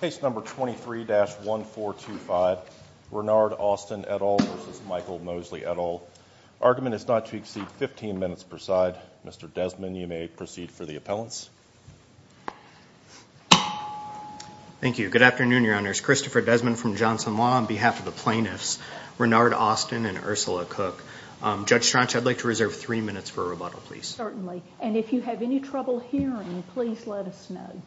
Case number 23-1425, Renard Austin et al. v. Michael Mosley et al. Argument is not to exceed 15 minutes per side. Mr. Desmond, you may proceed for the appellants. Thank you. Good afternoon, Your Honors. Christopher Desmond from Johnson Law on behalf of the plaintiffs Renard Austin and Ursula Cook. Judge Strach, I'd like to reserve three minutes for rebuttal, please. Certainly. And if you have any trouble hearing, please let us know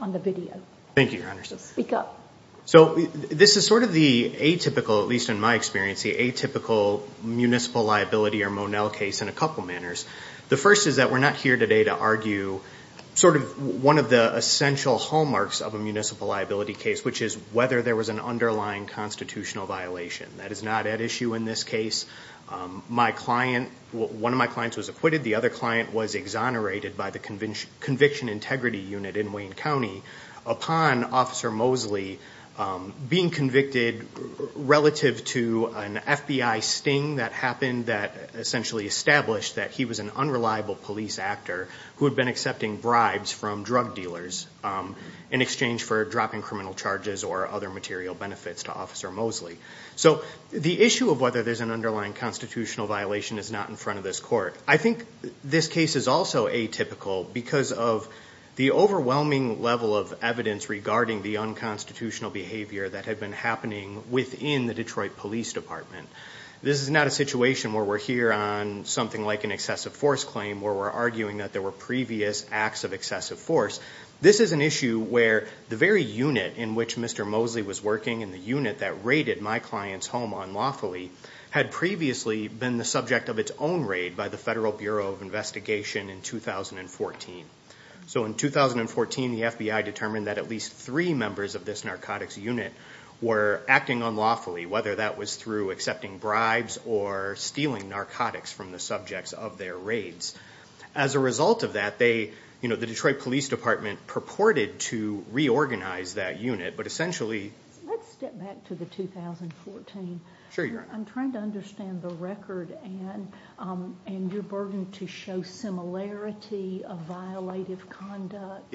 on the video. Thank you, Your Honors. Speak up. So this is sort of the atypical, at least in my experience, the atypical municipal liability or Monell case in a couple manners. The first is that we're not here today to argue sort of one of the essential hallmarks of a municipal liability case, which is whether there was an underlying constitutional violation. That is not at issue in this case. My client, one of my clients was acquitted. The other client was exonerated by the Conviction Integrity Unit in Wayne County upon Officer Mosley being convicted relative to an FBI sting that happened that essentially established that he was an unreliable police actor who had been accepting bribes from drug dealers in exchange for dropping criminal charges or other material benefits to Officer Mosley. So the issue of whether there's an underlying constitutional violation is not in front of this court. I think this case is also atypical because of the overwhelming level of evidence regarding the unconstitutional behavior that had been happening within the Detroit Police Department. This is not a situation where we're here on something like an excessive force claim where we're arguing that there were previous acts of excessive force. This is an issue where the very unit in which Mr. Mosley was working and the unit that raided my client's home unlawfully had previously been the subject of its own raid by the Federal Bureau of Investigation in 2014. So in 2014, the FBI determined that at least three members of this narcotics unit were acting unlawfully, whether that was through accepting bribes or stealing narcotics from the subjects of their raids. As a result of that, the Detroit Police Department purported to reorganize that unit, but essentially... Let's step back to the 2014. I'm trying to understand the record and your burden to show similarity of violative conduct.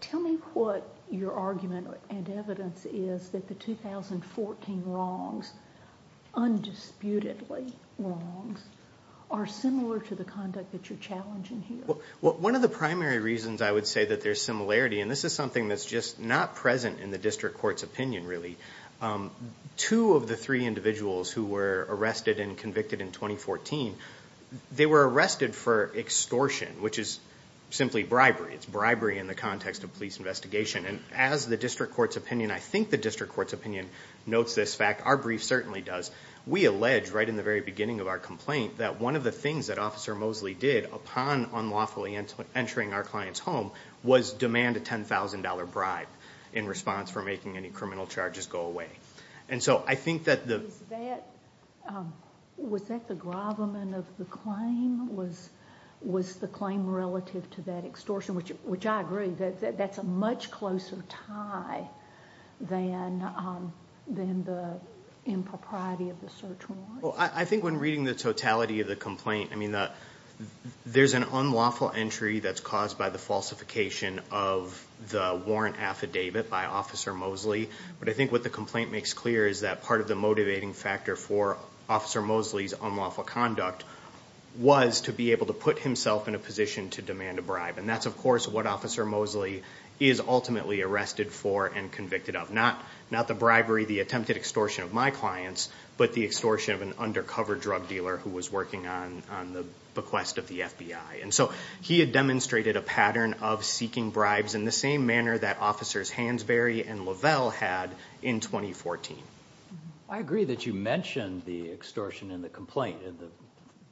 Tell me what your argument and evidence is that the 2014 wrongs, undisputedly wrongs, are similar to the conduct that you're challenging here. One of the primary reasons I would say that there's similarity, and this is something that's just not present in the district court's opinion really, two of the three individuals who were arrested and convicted in 2014, they were arrested for extortion, which is simply bribery. It's bribery in the context of police investigation. And as the district court's opinion, I think the district court's opinion notes this fact, our brief certainly does, we allege right in the very beginning of our complaint that one of the things that Officer Mosley did upon unlawfully entering our client's home was demand a $10,000 bribe in response for making any criminal charges go away. Was that the gravamen of the claim? Was the claim relative to that extortion? Which I agree, that's a much closer tie than the impropriety of the search warrant. I think when reading the totality of the complaint, there's an unlawful entry that's caused by the falsification of the warrant affidavit by Officer Mosley. But I think what the complaint makes clear is that part of the motivating factor for Officer Mosley's unlawful conduct was to be able to put himself in a position to demand a bribe. And that's of course what Officer Mosley is ultimately arrested for and convicted of. Not the bribery, the attempted extortion of my clients, but the extortion of an undercover drug dealer who was working on the bequest of the FBI. And so he had demonstrated a pattern of seeking bribes in the same manner that Officers Hansberry and Lavelle had in 2014. I agree that you mentioned the extortion in the complaint in the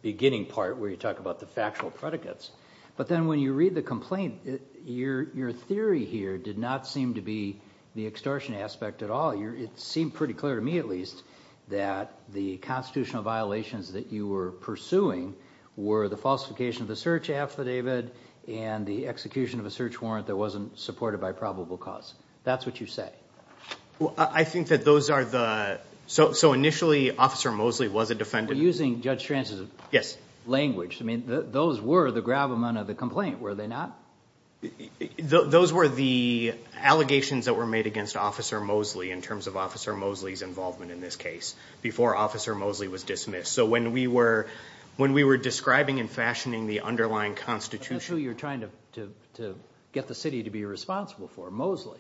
beginning part where you talk about the factual predicates. But then when you read the complaint, your theory here did not seem to be the extortion aspect at all. It seemed pretty clear to me at least that the constitutional violations that you were pursuing were the falsification of the search affidavit and the execution of a search warrant that wasn't supported by probable cause. That's what you say. I think that those are the... so initially Officer Mosley was a defendant. We're using Judge Stranz's language. Those were the gravamen of the complaint, were they not? Those were the allegations that were made against Officer Mosley in terms of Officer Mosley's involvement in this case before Officer Mosley was dismissed. So when we were describing and fashioning the underlying constitution... But that's who you're trying to get the city to be responsible for, Mosley.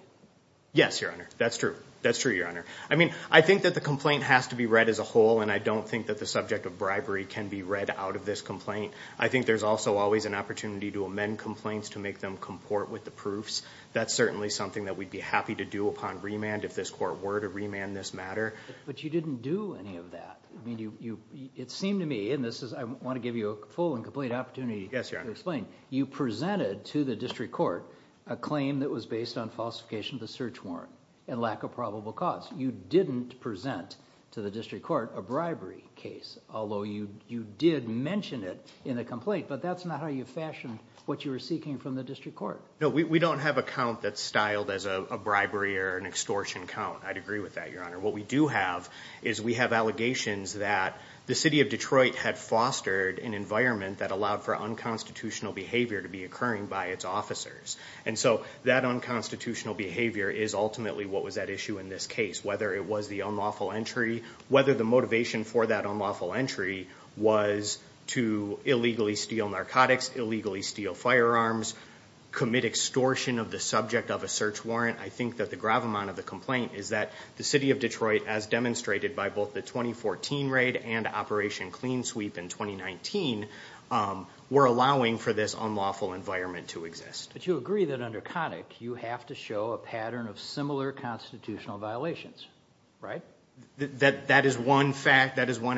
Yes, Your Honor. That's true. That's true, Your Honor. I mean, I think that the complaint has to be read as a whole and I don't think that the subject of bribery can be read out of this complaint. I think there's also always an opportunity to amend complaints to make them comport with the proofs. That's certainly something that we'd be happy to do upon remand if this court were to remand this matter. But you didn't do any of that. It seemed to me, and I want to give you a full and complete opportunity to explain, you presented to the district court a claim that was based on falsification of the search warrant and lack of probable cause. You didn't present to the district court a bribery case, although you did mention it in the complaint, but that's not how you fashioned what you were seeking from the district court. No, we don't have a count that's styled as a bribery or an extortion count. I'd agree with that, Your Honor. What we do have is we have allegations that the city of Detroit had fostered an environment that allowed for unconstitutional behavior to be occurring by its officers. And so that unconstitutional behavior is ultimately what was at issue in this case, whether it was the unlawful entry, whether the motivation for that unlawful entry was to illegally steal narcotics, illegally steal firearms, commit extortion of the subject of a search warrant. I think that the gravamonte of the complaint is that the city of Detroit, as demonstrated by both the 2014 raid and Operation Clean Sweep in 2019, were allowing for this unlawful environment to exist. But you agree that under CONIC you have to show a pattern of similar constitutional violations, right? That is one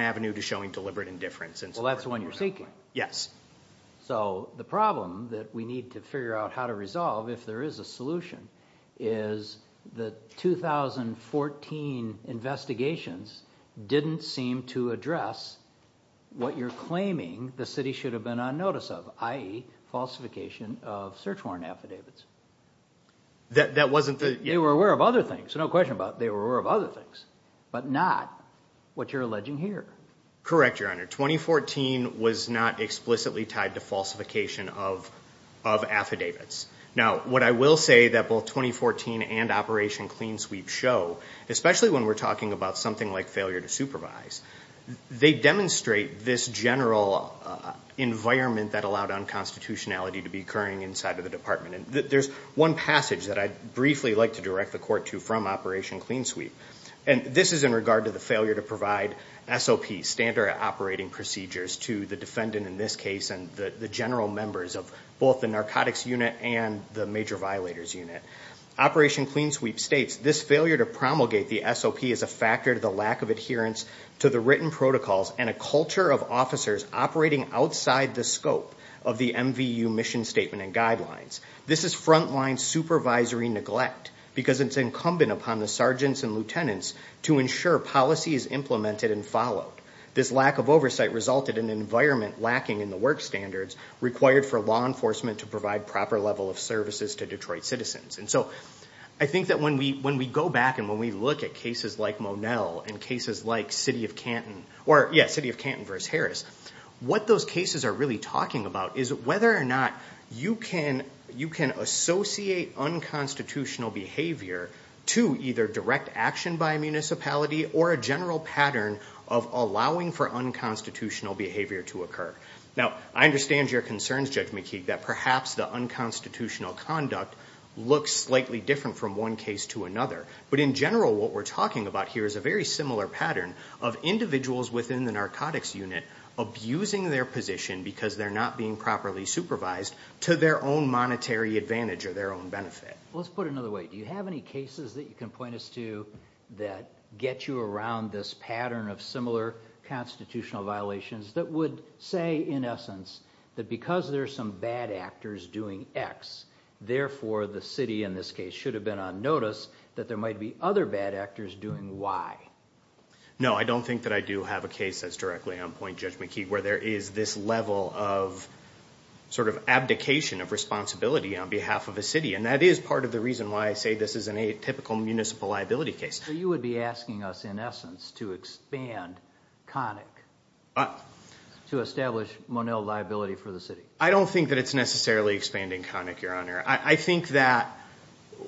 avenue to showing deliberate indifference. Well, that's the one you're seeking. Yes. So the problem that we need to figure out how to resolve, if there is a solution, is the 2014 investigations didn't seem to address what you're claiming the city should have been on notice of, i.e., falsification of search warrant affidavits. That wasn't the... They were aware of other things, no question about it. They were aware of other things, but not what you're alleging here. Correct, Your Honor. 2014 was not explicitly tied to falsification of affidavits. Now, what I will say that both 2014 and Operation Clean Sweep show, especially when we're talking about something like failure to supervise, they demonstrate this general environment that allowed unconstitutionality to be occurring inside of the department. There's one passage that I'd briefly like to direct the Court to from Operation Clean Sweep, and this is in regard to the failure to provide SOP, standard operating procedures, to the defendant in this case and the general members of both the narcotics unit and the major violators unit. Operation Clean Sweep states, this failure to promulgate the SOP is a factor to the lack of adherence to the written protocols and a culture of officers operating outside the scope of the MVU mission statement and guidelines. This is frontline supervisory neglect because it's incumbent upon the sergeants and lieutenants to ensure policy is implemented and followed. This lack of oversight resulted in an environment lacking in the work standards required for law enforcement to provide proper level of services to Detroit citizens. And so I think that when we go back and when we look at cases like Monell and cases like City of Canton, or yeah, City of Canton v. Harris, what those cases are really talking about is whether or not you can associate unconstitutional behavior to either direct action by a municipality or a general pattern of allowing for unconstitutional behavior to occur. Now, I understand your concerns, Judge McKeague, that perhaps the unconstitutional conduct looks slightly different from one case to another. But in general, what we're talking about here is a very similar pattern of individuals within the narcotics unit abusing their position because they're not being properly supervised to their own monetary advantage or their own benefit. Let's put it another way. Do you have any cases that you can point us to that get you around this pattern of similar constitutional violations that would say, in essence, that because there are some bad actors doing X, therefore the city in this case should have been on notice that there might be other bad actors doing Y? No, I don't think that I do have a case that's directly on point, Judge McKeague, where there is this level of sort of abdication of responsibility on behalf of a city. And that is part of the reason why I say this is an atypical municipal liability case. So you would be asking us, in essence, to expand CONIC to establish Monell liability for the city? I don't think that it's necessarily expanding CONIC, Your Honor. I think that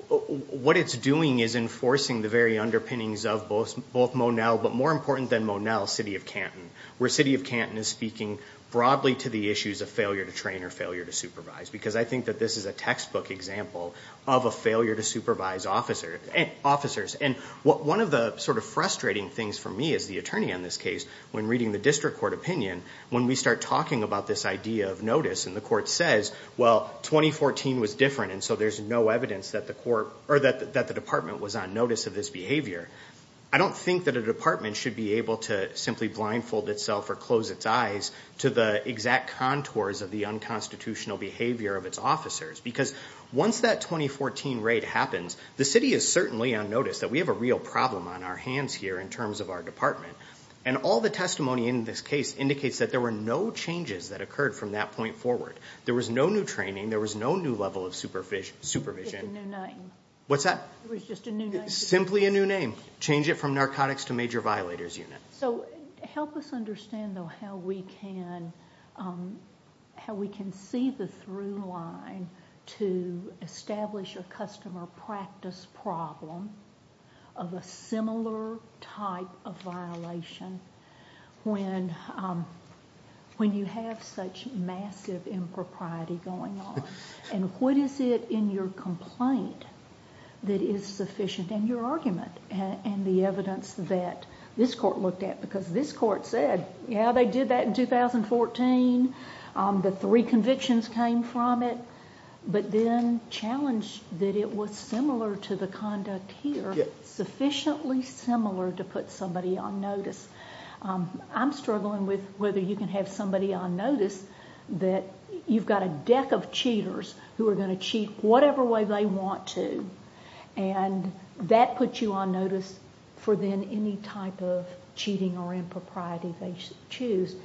what it's doing is enforcing the very underpinnings of both Monell, but more important than Monell, City of Canton, where City of Canton is speaking broadly to the issues of failure to train or failure to supervise because I think that this is a textbook example of a failure to supervise officers. And one of the sort of frustrating things for me as the attorney on this case, when reading the district court opinion, when we start talking about this idea of notice and the court says, well, 2014 was different and so there's no evidence that the court or that the department was on notice of this behavior, I don't think that a department should be able to simply blindfold itself or close its eyes to the exact contours of the unconstitutional behavior of its officers. Because once that 2014 raid happens, the city is certainly on notice that we have a real problem on our hands here in terms of our department. And all the testimony in this case indicates that there were no changes that occurred from that point forward. There was no new training. There was no new level of supervision. It was just a new name. What's that? It was just a new name. Simply a new name. Change it from narcotics to major violators unit. So help us understand, though, how we can see the through line to establish a customer practice problem of a similar type of violation when you have such massive impropriety going on. And what is it in your complaint that is sufficient in your argument and the evidence that this court looked at? Because this court said, yeah, they did that in 2014. The three convictions came from it. But then challenged that it was similar to the conduct here, sufficiently similar to put somebody on notice. I'm struggling with whether you can have somebody on notice that you've got a deck of cheaters who are going to cheat whatever way they want to, and that puts you on notice for then any type of cheating or impropriety they choose.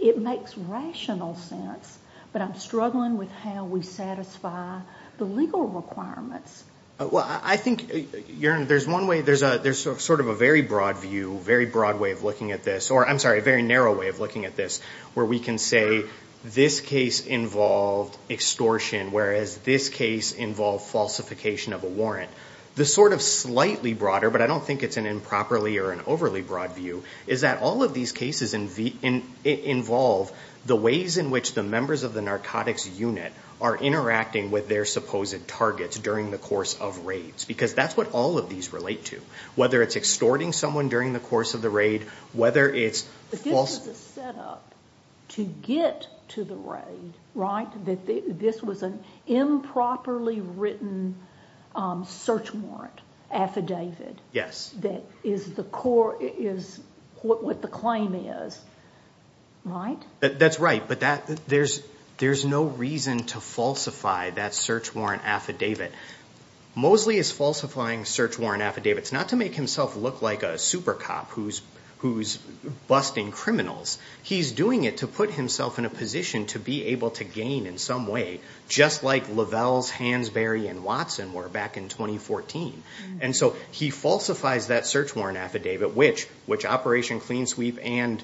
It makes rational sense, but I'm struggling with how we satisfy the legal requirements. Well, I think, Your Honor, there's one way. There's sort of a very broad view, very broad way of looking at this, or I'm sorry, a very narrow way of looking at this, where we can say this case involved extortion, whereas this case involved falsification of a warrant. The sort of slightly broader, but I don't think it's an improperly or an overly broad view, is that all of these cases involve the ways in which the members of the narcotics unit are interacting with their supposed targets during the course of raids, because that's what all of these relate to, whether it's extorting someone during the course of the raid, whether it's falsification. But this is a setup to get to the raid, right? This was an improperly written search warrant affidavit. That is what the claim is, right? That's right, but there's no reason to falsify that search warrant affidavit. Mosley is falsifying search warrant affidavits not to make himself look like a super cop who's busting criminals. He's doing it to put himself in a position to be able to gain in some way, just like Lovell, Hansberry, and Watson were back in 2014. And so he falsifies that search warrant affidavit, which Operation Clean Sweep and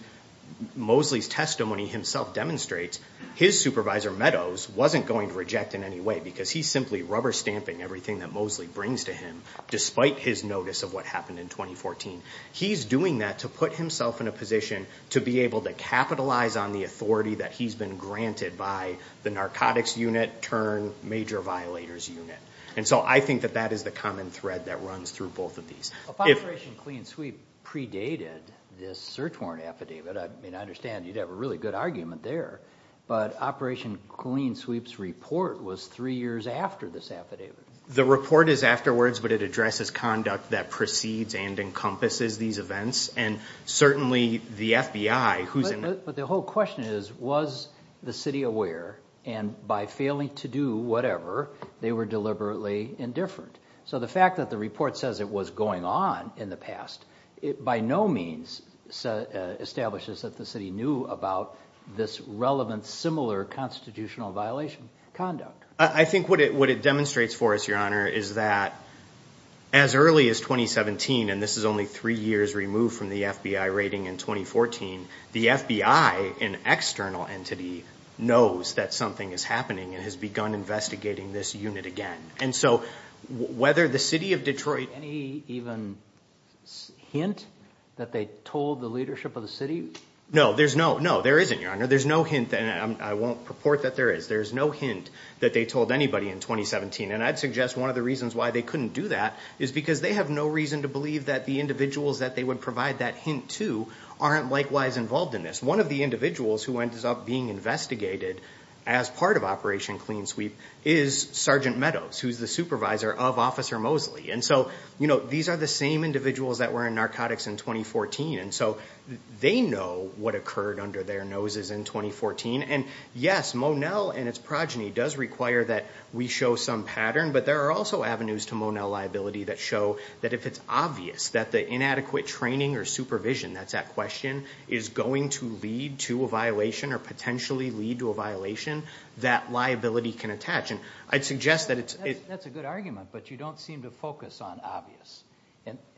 Mosley's testimony himself demonstrates, his supervisor, Meadows, wasn't going to reject in any way, because he's simply rubber stamping everything that Mosley brings to him, despite his notice of what happened in 2014. He's doing that to put himself in a position to be able to capitalize on the authority that he's been granted by the narcotics unit turned major violators unit. And so I think that that is the common thread that runs through both of these. If Operation Clean Sweep predated this search warrant affidavit, I mean, I understand you'd have a really good argument there, but Operation Clean Sweep's report was three years after this affidavit. The report is afterwards, but it addresses conduct that precedes and encompasses these events, and certainly the FBI, who's in- But the whole question is, was the city aware, and by failing to do whatever, they were deliberately indifferent? So the fact that the report says it was going on in the past, it by no means establishes that the city knew about this relevant, similar constitutional violation conduct. I think what it demonstrates for us, Your Honor, is that as early as 2017, and this is only three years removed from the FBI rating in 2014, the FBI, an external entity, knows that something is happening and has begun investigating this unit again. And so whether the city of Detroit- Any even hint that they told the leadership of the city? No, there's no- No, there isn't, Your Honor. There's no hint, and I won't purport that there is. There's no hint that they told anybody in 2017. And I'd suggest one of the reasons why they couldn't do that is because they have no reason to believe that the individuals that they would provide that hint to aren't likewise involved in this. One of the individuals who ends up being investigated as part of Operation Clean Sweep is Sergeant Meadows, who's the supervisor of Officer Mosley. And so these are the same individuals that were in narcotics in 2014, and so they know what occurred under their noses in 2014. And yes, Monell and its progeny does require that we show some pattern, but there are also avenues to Monell liability that show that if it's obvious that the inadequate training or supervision, that's that question, is going to lead to a violation or potentially lead to a violation, that liability can attach. And I'd suggest that it's- That's a good argument, but you don't seem to focus on obvious.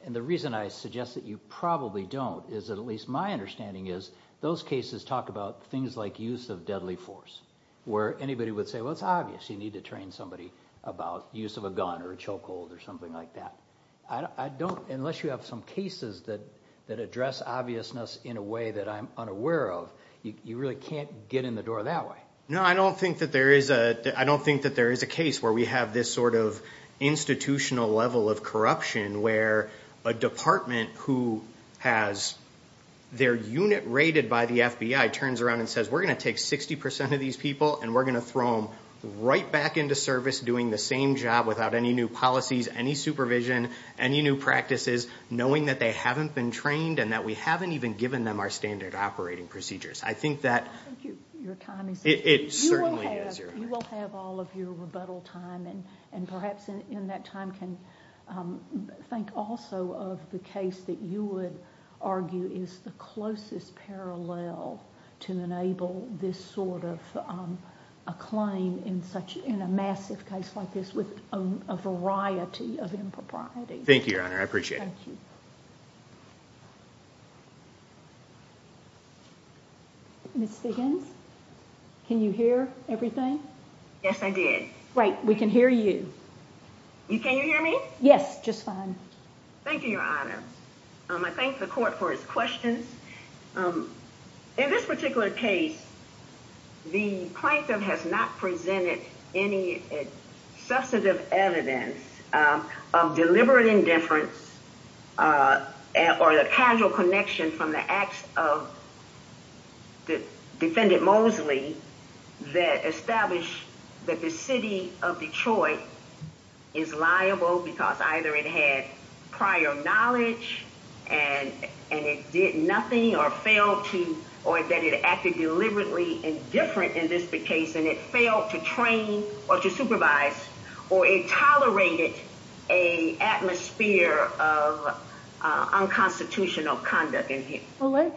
And the reason I suggest that you probably don't is that at least my understanding is those cases talk about things like use of deadly force, where anybody would say, well, it's obvious you need to train somebody about use of a gun or a chokehold or something like that. I don't-unless you have some cases that address obviousness in a way that I'm unaware of, you really can't get in the door that way. No, I don't think that there is a- I don't think that there is a case where we have this sort of institutional level of corruption where a department who has their unit rated by the FBI turns around and says, we're going to take 60% of these people and we're going to throw them right back into service doing the same job without any new policies, any supervision, any new practices, knowing that they haven't been trained and that we haven't even given them our standard operating procedures. I think that- I think your time is up. It certainly is, Your Honor. You will have all of your rebuttal time, and perhaps in that time can think also of the case that you would argue is the closest parallel to enable this sort of a claim in a massive case like this with a variety of impropriety. Thank you, Your Honor. I appreciate it. Thank you. Ms. Diggins? Can you hear everything? Yes, I did. Great. We can hear you. Can you hear me? Yes, just fine. Thank you, Your Honor. I thank the court for its questions. In this particular case, the plaintiff has not presented any substantive evidence of deliberate indifference or the casual connection from the acts of Defendant Mosley that establish that the city of Detroit is liable because either it had prior knowledge and it did nothing or failed to- or that it acted deliberately indifferent in this case and it failed to train or to supervise or it tolerated an atmosphere of unconstitutional conduct in here. Let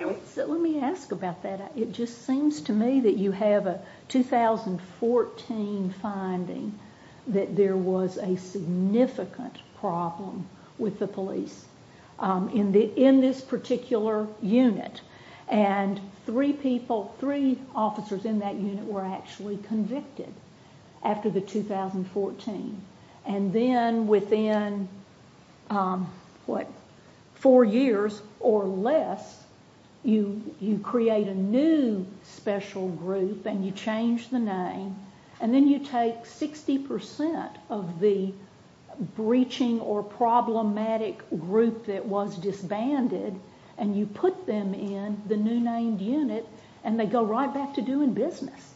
me ask about that. It just seems to me that you have a 2014 finding that there was a significant problem with the police in this particular unit, and three people, three officers in that unit were actually convicted after the 2014. And then within, what, four years or less, you create a new special group and you change the name and then you take 60% of the breaching or problematic group that was disbanded and you put them in the new named unit and they go right back to doing business.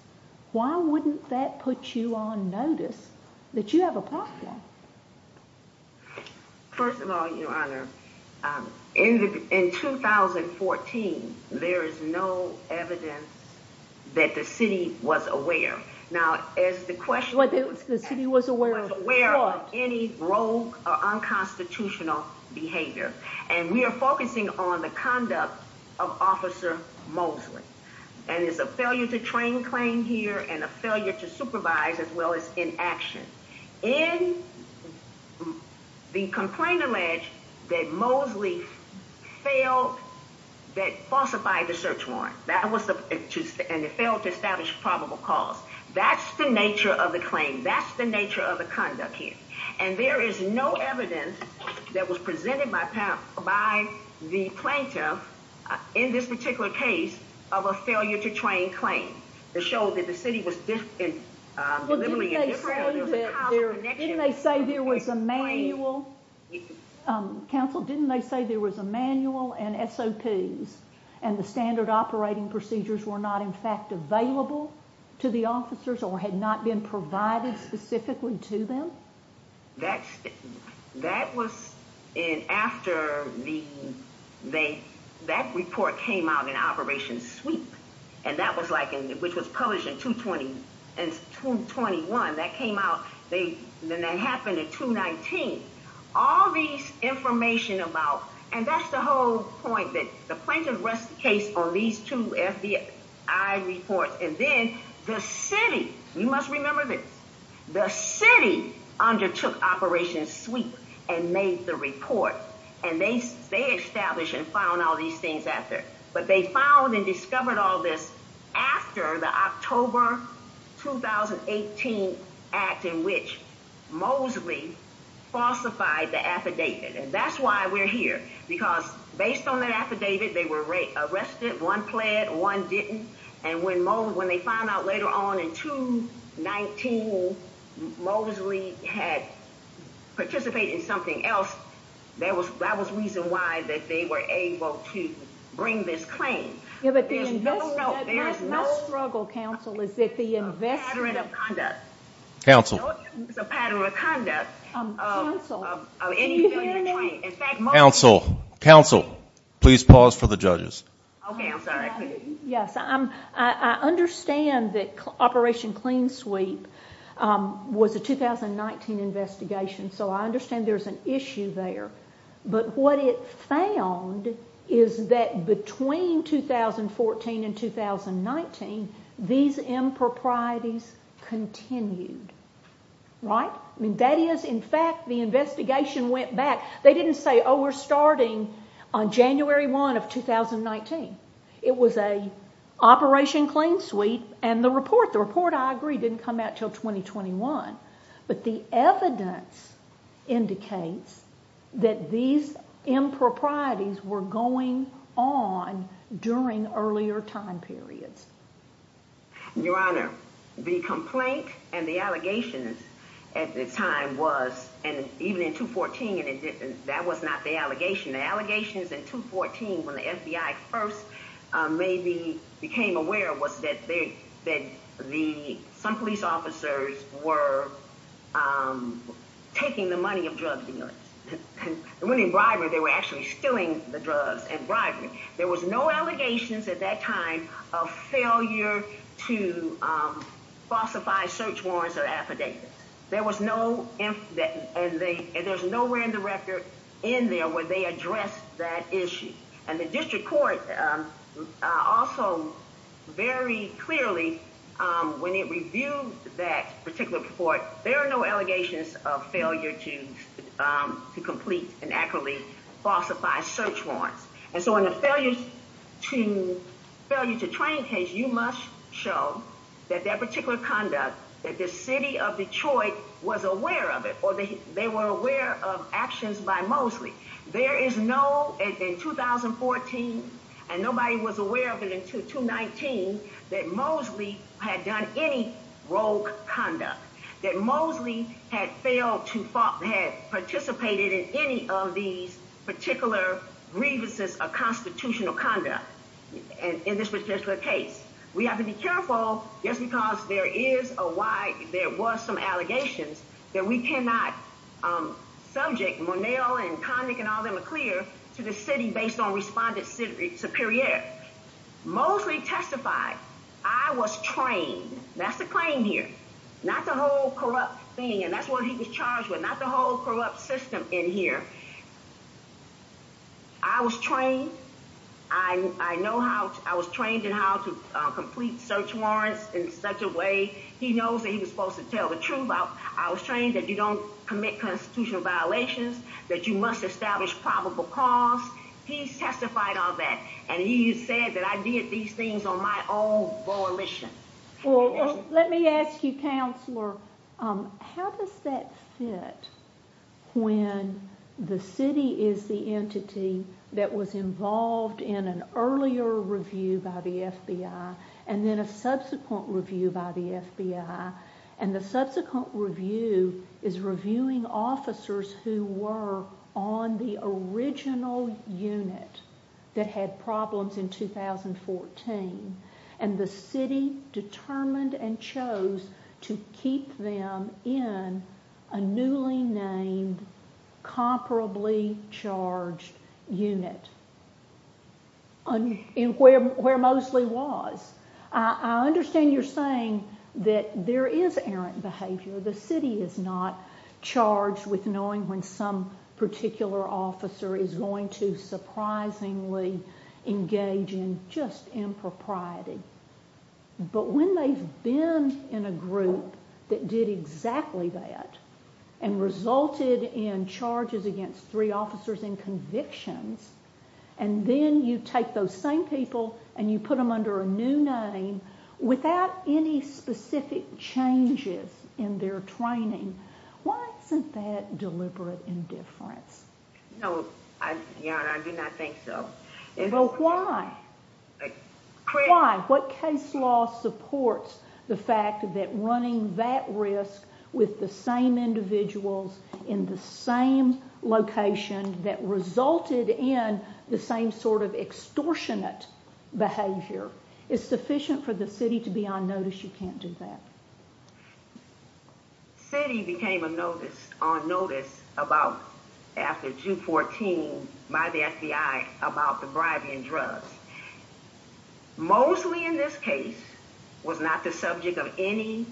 Why wouldn't that put you on notice that you have a problem? First of all, Your Honor, in 2014, there is no evidence that the city was aware. Now, as the question- The city was aware of what? of any rogue or unconstitutional behavior. And we are focusing on the conduct of Officer Mosley. And it's a failure to train claim here and a failure to supervise as well as in action. In the complaint alleged that Mosley failed- that falsified the search warrant. That was the- and it failed to establish probable cause. That's the nature of the claim. That's the nature of the conduct here. And there is no evidence that was presented by the plaintiff in this particular case of a failure to train claim. To show that the city was delivering a different- Well, didn't they say that there was a manual? Counsel, didn't they say there was a manual and SOPs and the standard operating procedures were not, in fact, available to the officers or had not been provided specifically to them? That's- that was in- after the- they- that report came out in Operation Sweep. And that was like in- which was published in 220- in 221. That came out- they- then that happened in 219. All these information about- and that's the whole point that the plaintiff rest- case on these two FBI reports. And then the city- you must remember this- the city undertook Operation Sweep and made the report. And they- they established and found all these things after. But they found and discovered all this after the October 2018 act in which Mosley falsified the affidavit. And that's why we're here. Because based on that affidavit, they were arrested. One pled, one didn't. And when Mosley- when they found out later on in 219 Mosley had participated in something else, there was- that was reason why that they were able to bring this claim. Yeah, but the investment- There's no- there's no- My struggle, counsel, is that the investment- Pattern of conduct. Counsel. No use of pattern of conduct. Counsel. Of any failure to train. In fact, Mosley- Counsel. Counsel. Please pause for the judges. Okay. I'm sorry. I couldn't- Yes. I'm- I understand that Operation Clean Sweep was a 2019 investigation. So I understand there's an issue there. But what it found is that between 2014 and 2019, these improprieties continued. Right? That is, in fact, the investigation went back. They didn't say, oh, we're starting on January 1 of 2019. It was a Operation Clean Sweep and the report. The report, I agree, didn't come out until 2021. But the evidence indicates that these improprieties were going on during earlier time periods. Your Honor, the complaint and the allegations at the time was- and even in 2014, that was not the allegation. The allegations in 2014 when the FBI first maybe became aware was that some police officers were taking the money of drug dealers. When in bribery, they were actually stealing the drugs in bribery. There was no allegations at that time of failure to falsify search warrants or affidavits. There was no- and there's no random record in there where they addressed that issue. And the district court also very clearly, when it reviewed that particular report, there are no allegations of failure to complete and accurately falsify search warrants. And so in a failure to train case, you must show that that particular conduct, that the city of Detroit was aware of it or they were aware of actions by Mosley. There is no- in 2014, and nobody was aware of it until 2019, that Mosley had done any rogue conduct. That Mosley had failed to- had participated in any of these particular grievances of constitutional conduct in this particular case. We have to be careful just because there is a- why there was some allegations that we cannot subject Monell and Connick and all them clear to the city based on responded superior. Mosley testified, I was trained, that's the claim here, not the whole corrupt thing and that's what he was charged with, not the whole corrupt system in here. I was trained, I know how- I was trained in how to complete search warrants in such a way he knows that he was supposed to tell the truth. I was trained that you don't commit constitutional violations, that you must establish probable cause. He testified on that and he said that I did these things on my own volition. Let me ask you, Counselor, how does that fit when the city is the entity that was involved in an earlier review by the FBI and then a subsequent review by the FBI and the subsequent review is reviewing officers who were on the original unit that had problems in 2014 and the city determined and chose to keep them in a newly named comparably charged unit. Where Mosley was. I understand you're saying that there is errant behavior, the city is not charged with knowing when some particular officer is going to surprisingly engage in just impropriety. But when they've been in a group that did exactly that and resulted in charges against three officers and convictions and then you take those same people and you put them under a new name without any specific changes in their training, why isn't that deliberate indifference? No, Your Honor, I do not think so. But why? Why? What case law supports the fact that running that risk with the same individuals in the same location that resulted in the same sort of extortionate behavior is sufficient for the city to be on notice you can't do that? The city became on notice after June 14 by the FBI about the bribery and drugs. Mosley in this case was not the subject of any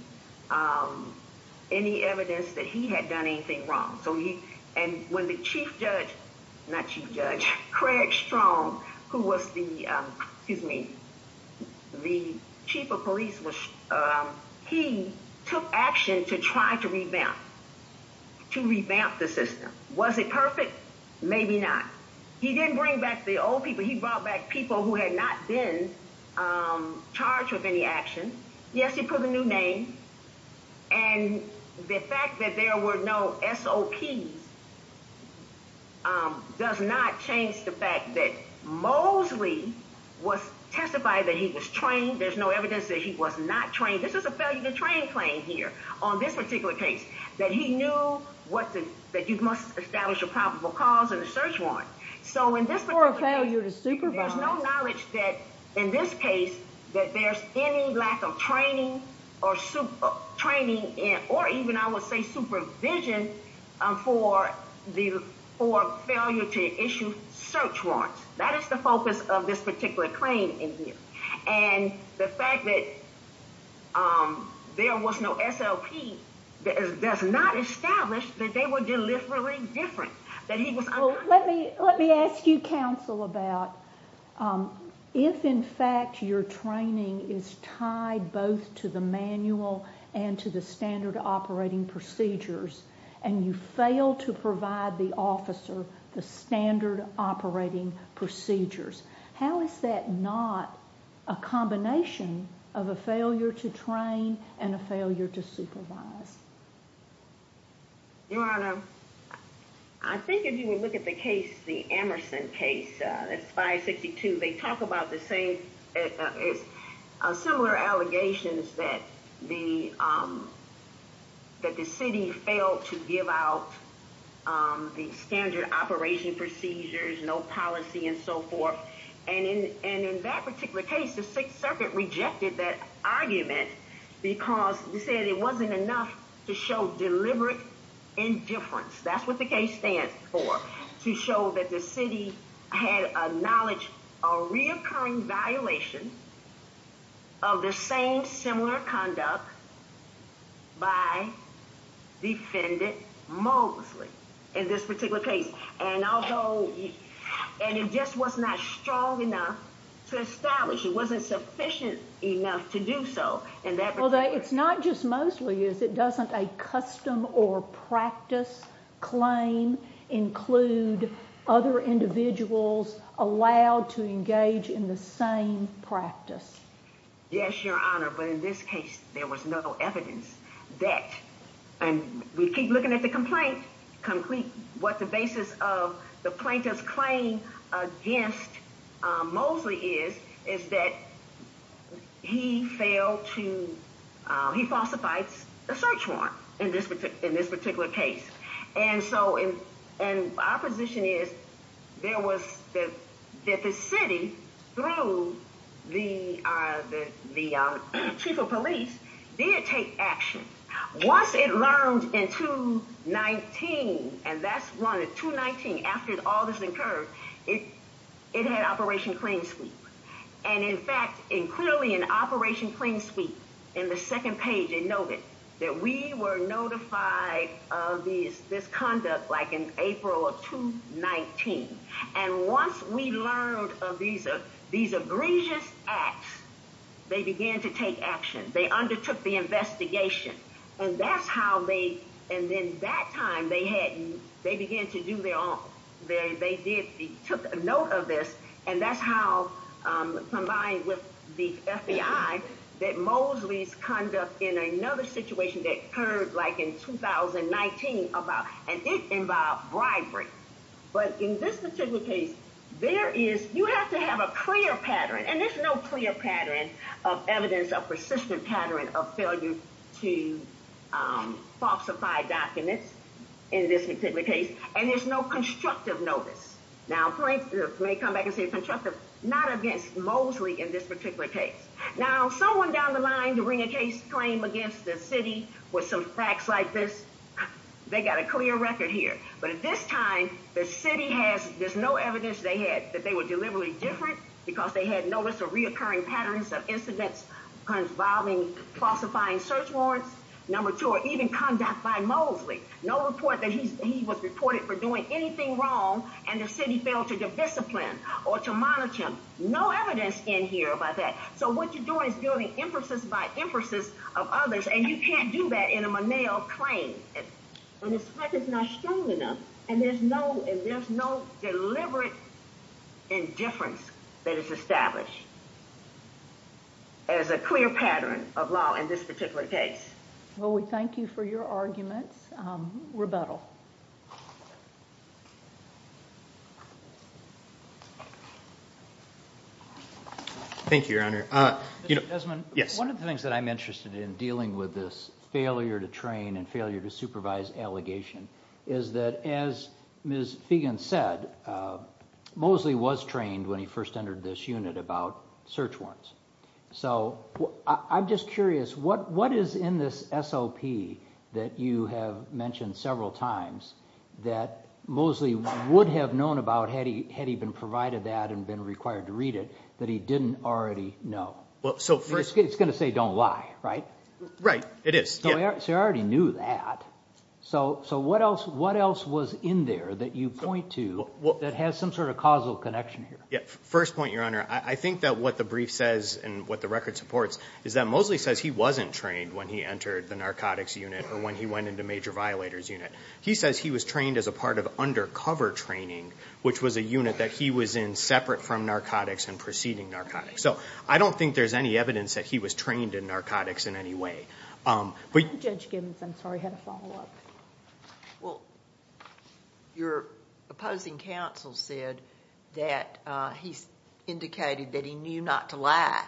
evidence that he had done anything wrong. And when the chief judge, not chief judge, Craig Strong, who was the chief of police, he took action to try to revamp the system. Was it perfect? Maybe not. He didn't bring back the old people. He brought back people who had not been charged with any action. Yes, he put a new name. And the fact that there were no SOPs does not change the fact that Mosley testified that he was trained. There's no evidence that he was not trained. This is a failure to train claim here on this particular case that he knew that you must establish a probable cause and a search warrant. So in this particular case, there's no knowledge that in this case that there's any lack of training or supervision for failure to issue search warrants. That is the focus of this particular claim in here. And the fact that there was no SOP does not establish that they were deliberately different. Let me let me ask you, counsel, about if, in fact, your training is tied both to the manual and to the standard operating procedures and you fail to provide the officer the standard operating procedures, how is that not a combination of a failure to train and a failure to supervise? Your Honor, I think if you would look at the case, the Emerson case, that's 562, they talk about the same similar allegations that the that the city failed to give out the standard operation procedures, no policy and so forth. And in that particular case, the Sixth Circuit rejected that argument because they said it wasn't enough to show deliberate indifference. That's what the case stands for, to show that the city had acknowledged a reoccurring violation of the same similar conduct by defendant Mosley in this particular case. And although and it just was not strong enough to establish it wasn't sufficient enough to do so. And that it's not just mostly is it doesn't a custom or practice claim include other individuals allowed to engage in the same practice? Yes, Your Honor, but in this case, there was no evidence that and we keep looking at the complaint complete what the basis of the plaintiff's claim against Mosley is, is that he failed to he falsified a search warrant in this in this particular case. And so in our position is, there was the that the city through the the chief of police did take action. Once it learned in 219, and that's one of 219, after all this occurred, it, it had Operation Clean Sweep. And in fact, in clearly in Operation Clean Sweep, in the second page, it noted that we were notified of these this conduct like in April of 219. And once we learned of these, these egregious acts, they began to take action, they undertook the investigation. And that's how they and then that time they had, they began to do their own. They did the took note of this. And that's how, combined with the FBI, that Mosley's conduct in another situation that occurred like in 2019 about and it involved bribery. But in this particular case, there is you have to have a clear pattern and there's no clear pattern of evidence of persistent pattern of failure to falsify documents in this particular case. And there's no constructive notice. Now, plaintiffs may come back and say constructive, not against Mosley in this particular case. Now, someone down the line to bring a case claim against the city with some facts like this, they got a clear record here. But at this time, the city has, there's no evidence they had that they were deliberately different because they had notice of reoccurring patterns of incidents involving falsifying search warrants. Number two, or even conduct by Mosley, no report that he was reported for doing anything wrong and the city failed to discipline or to monitor him. No evidence in here about that. So what you're doing is doing emphasis by emphasis of others. And you can't do that in a Monell claim. And it's like it's not strong enough. And there's no and there's no deliberate indifference that is established as a clear pattern of law in this particular case. Well, we thank you for your arguments. Rebuttal. Thank you, Your Honor. Yes, one of the things that I'm interested in dealing with this failure to train and failure to supervise allegation is that as Ms. Fegan said, Mosley was trained when he first entered this unit about search warrants. So I'm just curious, what what is in this SOP that you have mentioned several times that Mosley would have known about had he had even provided that and been required to read it that he didn't already know? Well, so first it's going to say don't lie, right? Right. It is. So I already knew that. So so what else what else was in there that you point to that has some sort of causal connection here? Yeah. First point, Your Honor, I think that what the brief says and what the record supports is that Mosley says he wasn't trained when he entered the narcotics unit or when he went into major violators unit. He says he was trained as a part of undercover training, which was a unit that he was in separate from narcotics and preceding narcotics. So I don't think there's any evidence that he was trained in narcotics in any way. Judge Gibbons, I'm sorry, had a follow up. Well, your opposing counsel said that he's indicated that he knew not to lie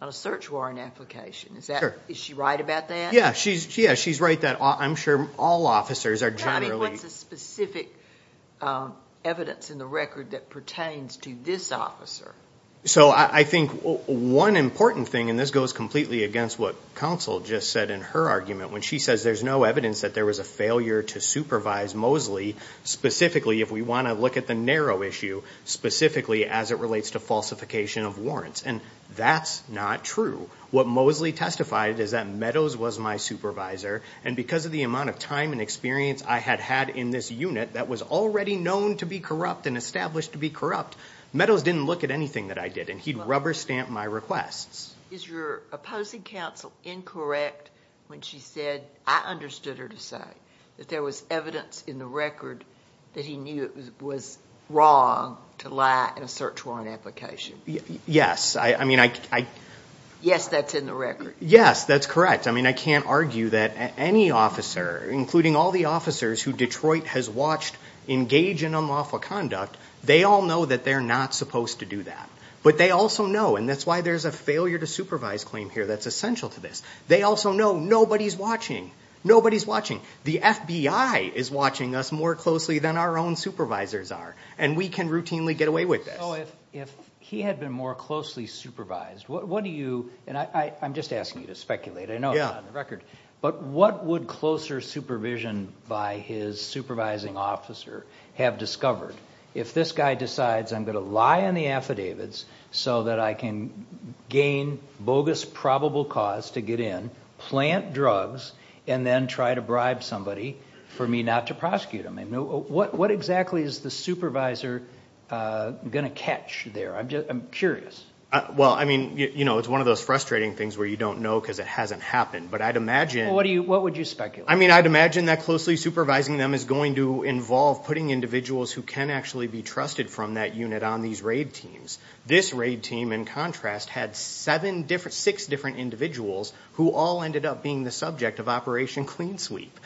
on a search warrant application. Is that is she right about that? Yeah, she's yeah, she's right that I'm sure all officers are generally. What's the specific evidence in the record that pertains to this officer? So I think one important thing and this goes completely against what counsel just said in her argument when she says there's no evidence that there was a failure to supervise Mosley, specifically if we want to look at the narrow issue specifically as it relates to falsification of warrants. And that's not true. What Mosley testified is that Meadows was my supervisor. And because of the amount of time and experience I had had in this unit that was already known to be corrupt and established to be corrupt. Meadows didn't look at anything that I did and he'd rubber stamp my requests. Is your opposing counsel incorrect when she said I understood her to say that there was evidence in the record that he knew it was wrong to lie in a search warrant application? Yes, I mean, I. Yes, that's in the record. Yes, that's correct. I mean, I can't argue that any officer, including all the officers who Detroit has watched engage in unlawful conduct, they all know that they're not supposed to do that. But they also know and that's why there's a failure to supervise claim here that's essential to this. They also know nobody's watching. Nobody's watching. The FBI is watching us more closely than our own supervisors are. And we can routinely get away with this. If he had been more closely supervised, what do you and I'm just asking you to speculate. I know the record. But what would closer supervision by his supervising officer have discovered? If this guy decides I'm going to lie in the affidavits so that I can gain bogus probable cause to get in, plant drugs and then try to bribe somebody for me not to prosecute him. What exactly is the supervisor going to catch there? I'm curious. Well, I mean, you know, it's one of those frustrating things where you don't know because it hasn't happened. But I'd imagine. What would you speculate? I mean, I'd imagine that closely supervising them is going to involve putting individuals who can actually be trusted from that unit on these raid teams. This raid team, in contrast, had six different individuals who all ended up being the subject of Operation Clean Sweep.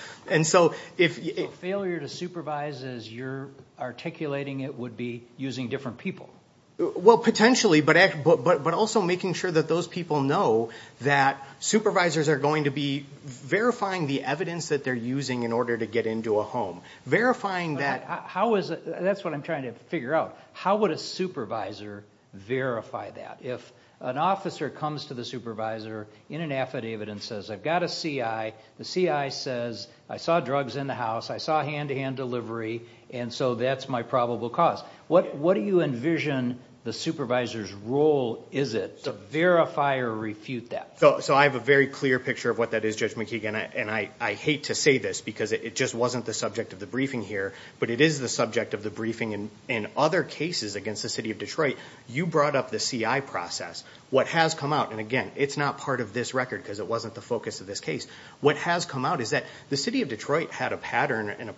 So failure to supervise as you're articulating it would be using different people? Well, potentially, but also making sure that those people know that supervisors are going to be verifying the evidence that they're using in order to get into a home. Verifying that. That's what I'm trying to figure out. How would a supervisor verify that? If an officer comes to the supervisor in an affidavit and says, I've got a C.I., the C.I. says, I saw drugs in the house. I saw hand-to-hand delivery. And so that's my probable cause. What do you envision the supervisor's role is it to verify or refute that? So I have a very clear picture of what that is, Judge McKeegan. And I hate to say this because it just wasn't the subject of the briefing here. But it is the subject of the briefing. In other cases against the city of Detroit, you brought up the C.I. process. What has come out, and again, it's not part of this record because it wasn't the focus of this case. What has come out is that the city of Detroit had a pattern and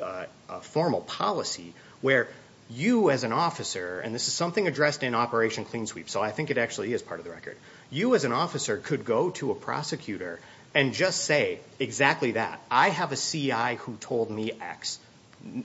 a formal policy where you as an officer, and this is something addressed in Operation Clean Sweep, so I think it actually is part of the record. You as an officer could go to a prosecutor and just say exactly that. I have a C.I. who told me X.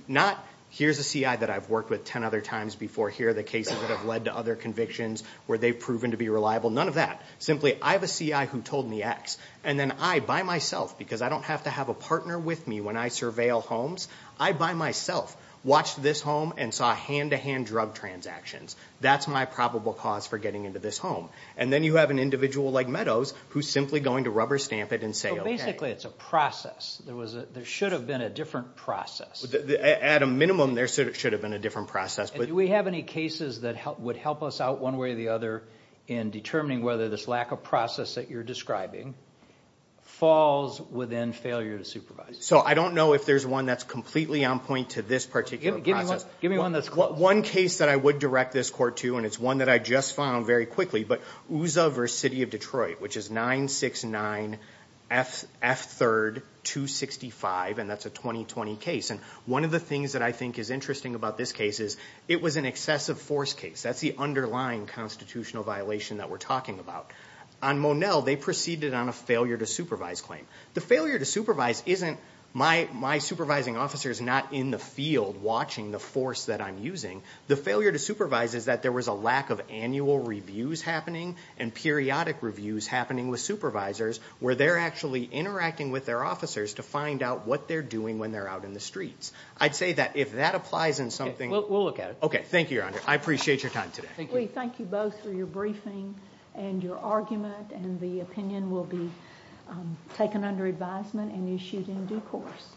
Not, here's a C.I. that I've worked with 10 other times before here, the cases that have led to other convictions where they've proven to be reliable, none of that. Simply, I have a C.I. who told me X. And then I, by myself, because I don't have to have a partner with me when I surveil homes, I by myself watched this home and saw hand-to-hand drug transactions. That's my probable cause for getting into this home. And then you have an individual like Meadows who's simply going to rubber stamp it and say, okay. Practically, it's a process. There should have been a different process. At a minimum, there should have been a different process. Do we have any cases that would help us out one way or the other in determining whether this lack of process that you're describing falls within failure to supervise? I don't know if there's one that's completely on point to this particular process. Give me one that's close. F3rd 265, and that's a 2020 case. And one of the things that I think is interesting about this case is it was an excessive force case. That's the underlying constitutional violation that we're talking about. On Monell, they proceeded on a failure to supervise claim. The failure to supervise isn't my supervising officers not in the field watching the force that I'm using. The failure to supervise is that there was a lack of annual reviews happening and periodic reviews happening with supervisors where they're actually interacting with their officers to find out what they're doing when they're out in the streets. I'd say that if that applies in something— Okay, we'll look at it. Okay, thank you, Your Honor. I appreciate your time today. We thank you both for your briefing and your argument, and the opinion will be taken under advisement and issued in due course.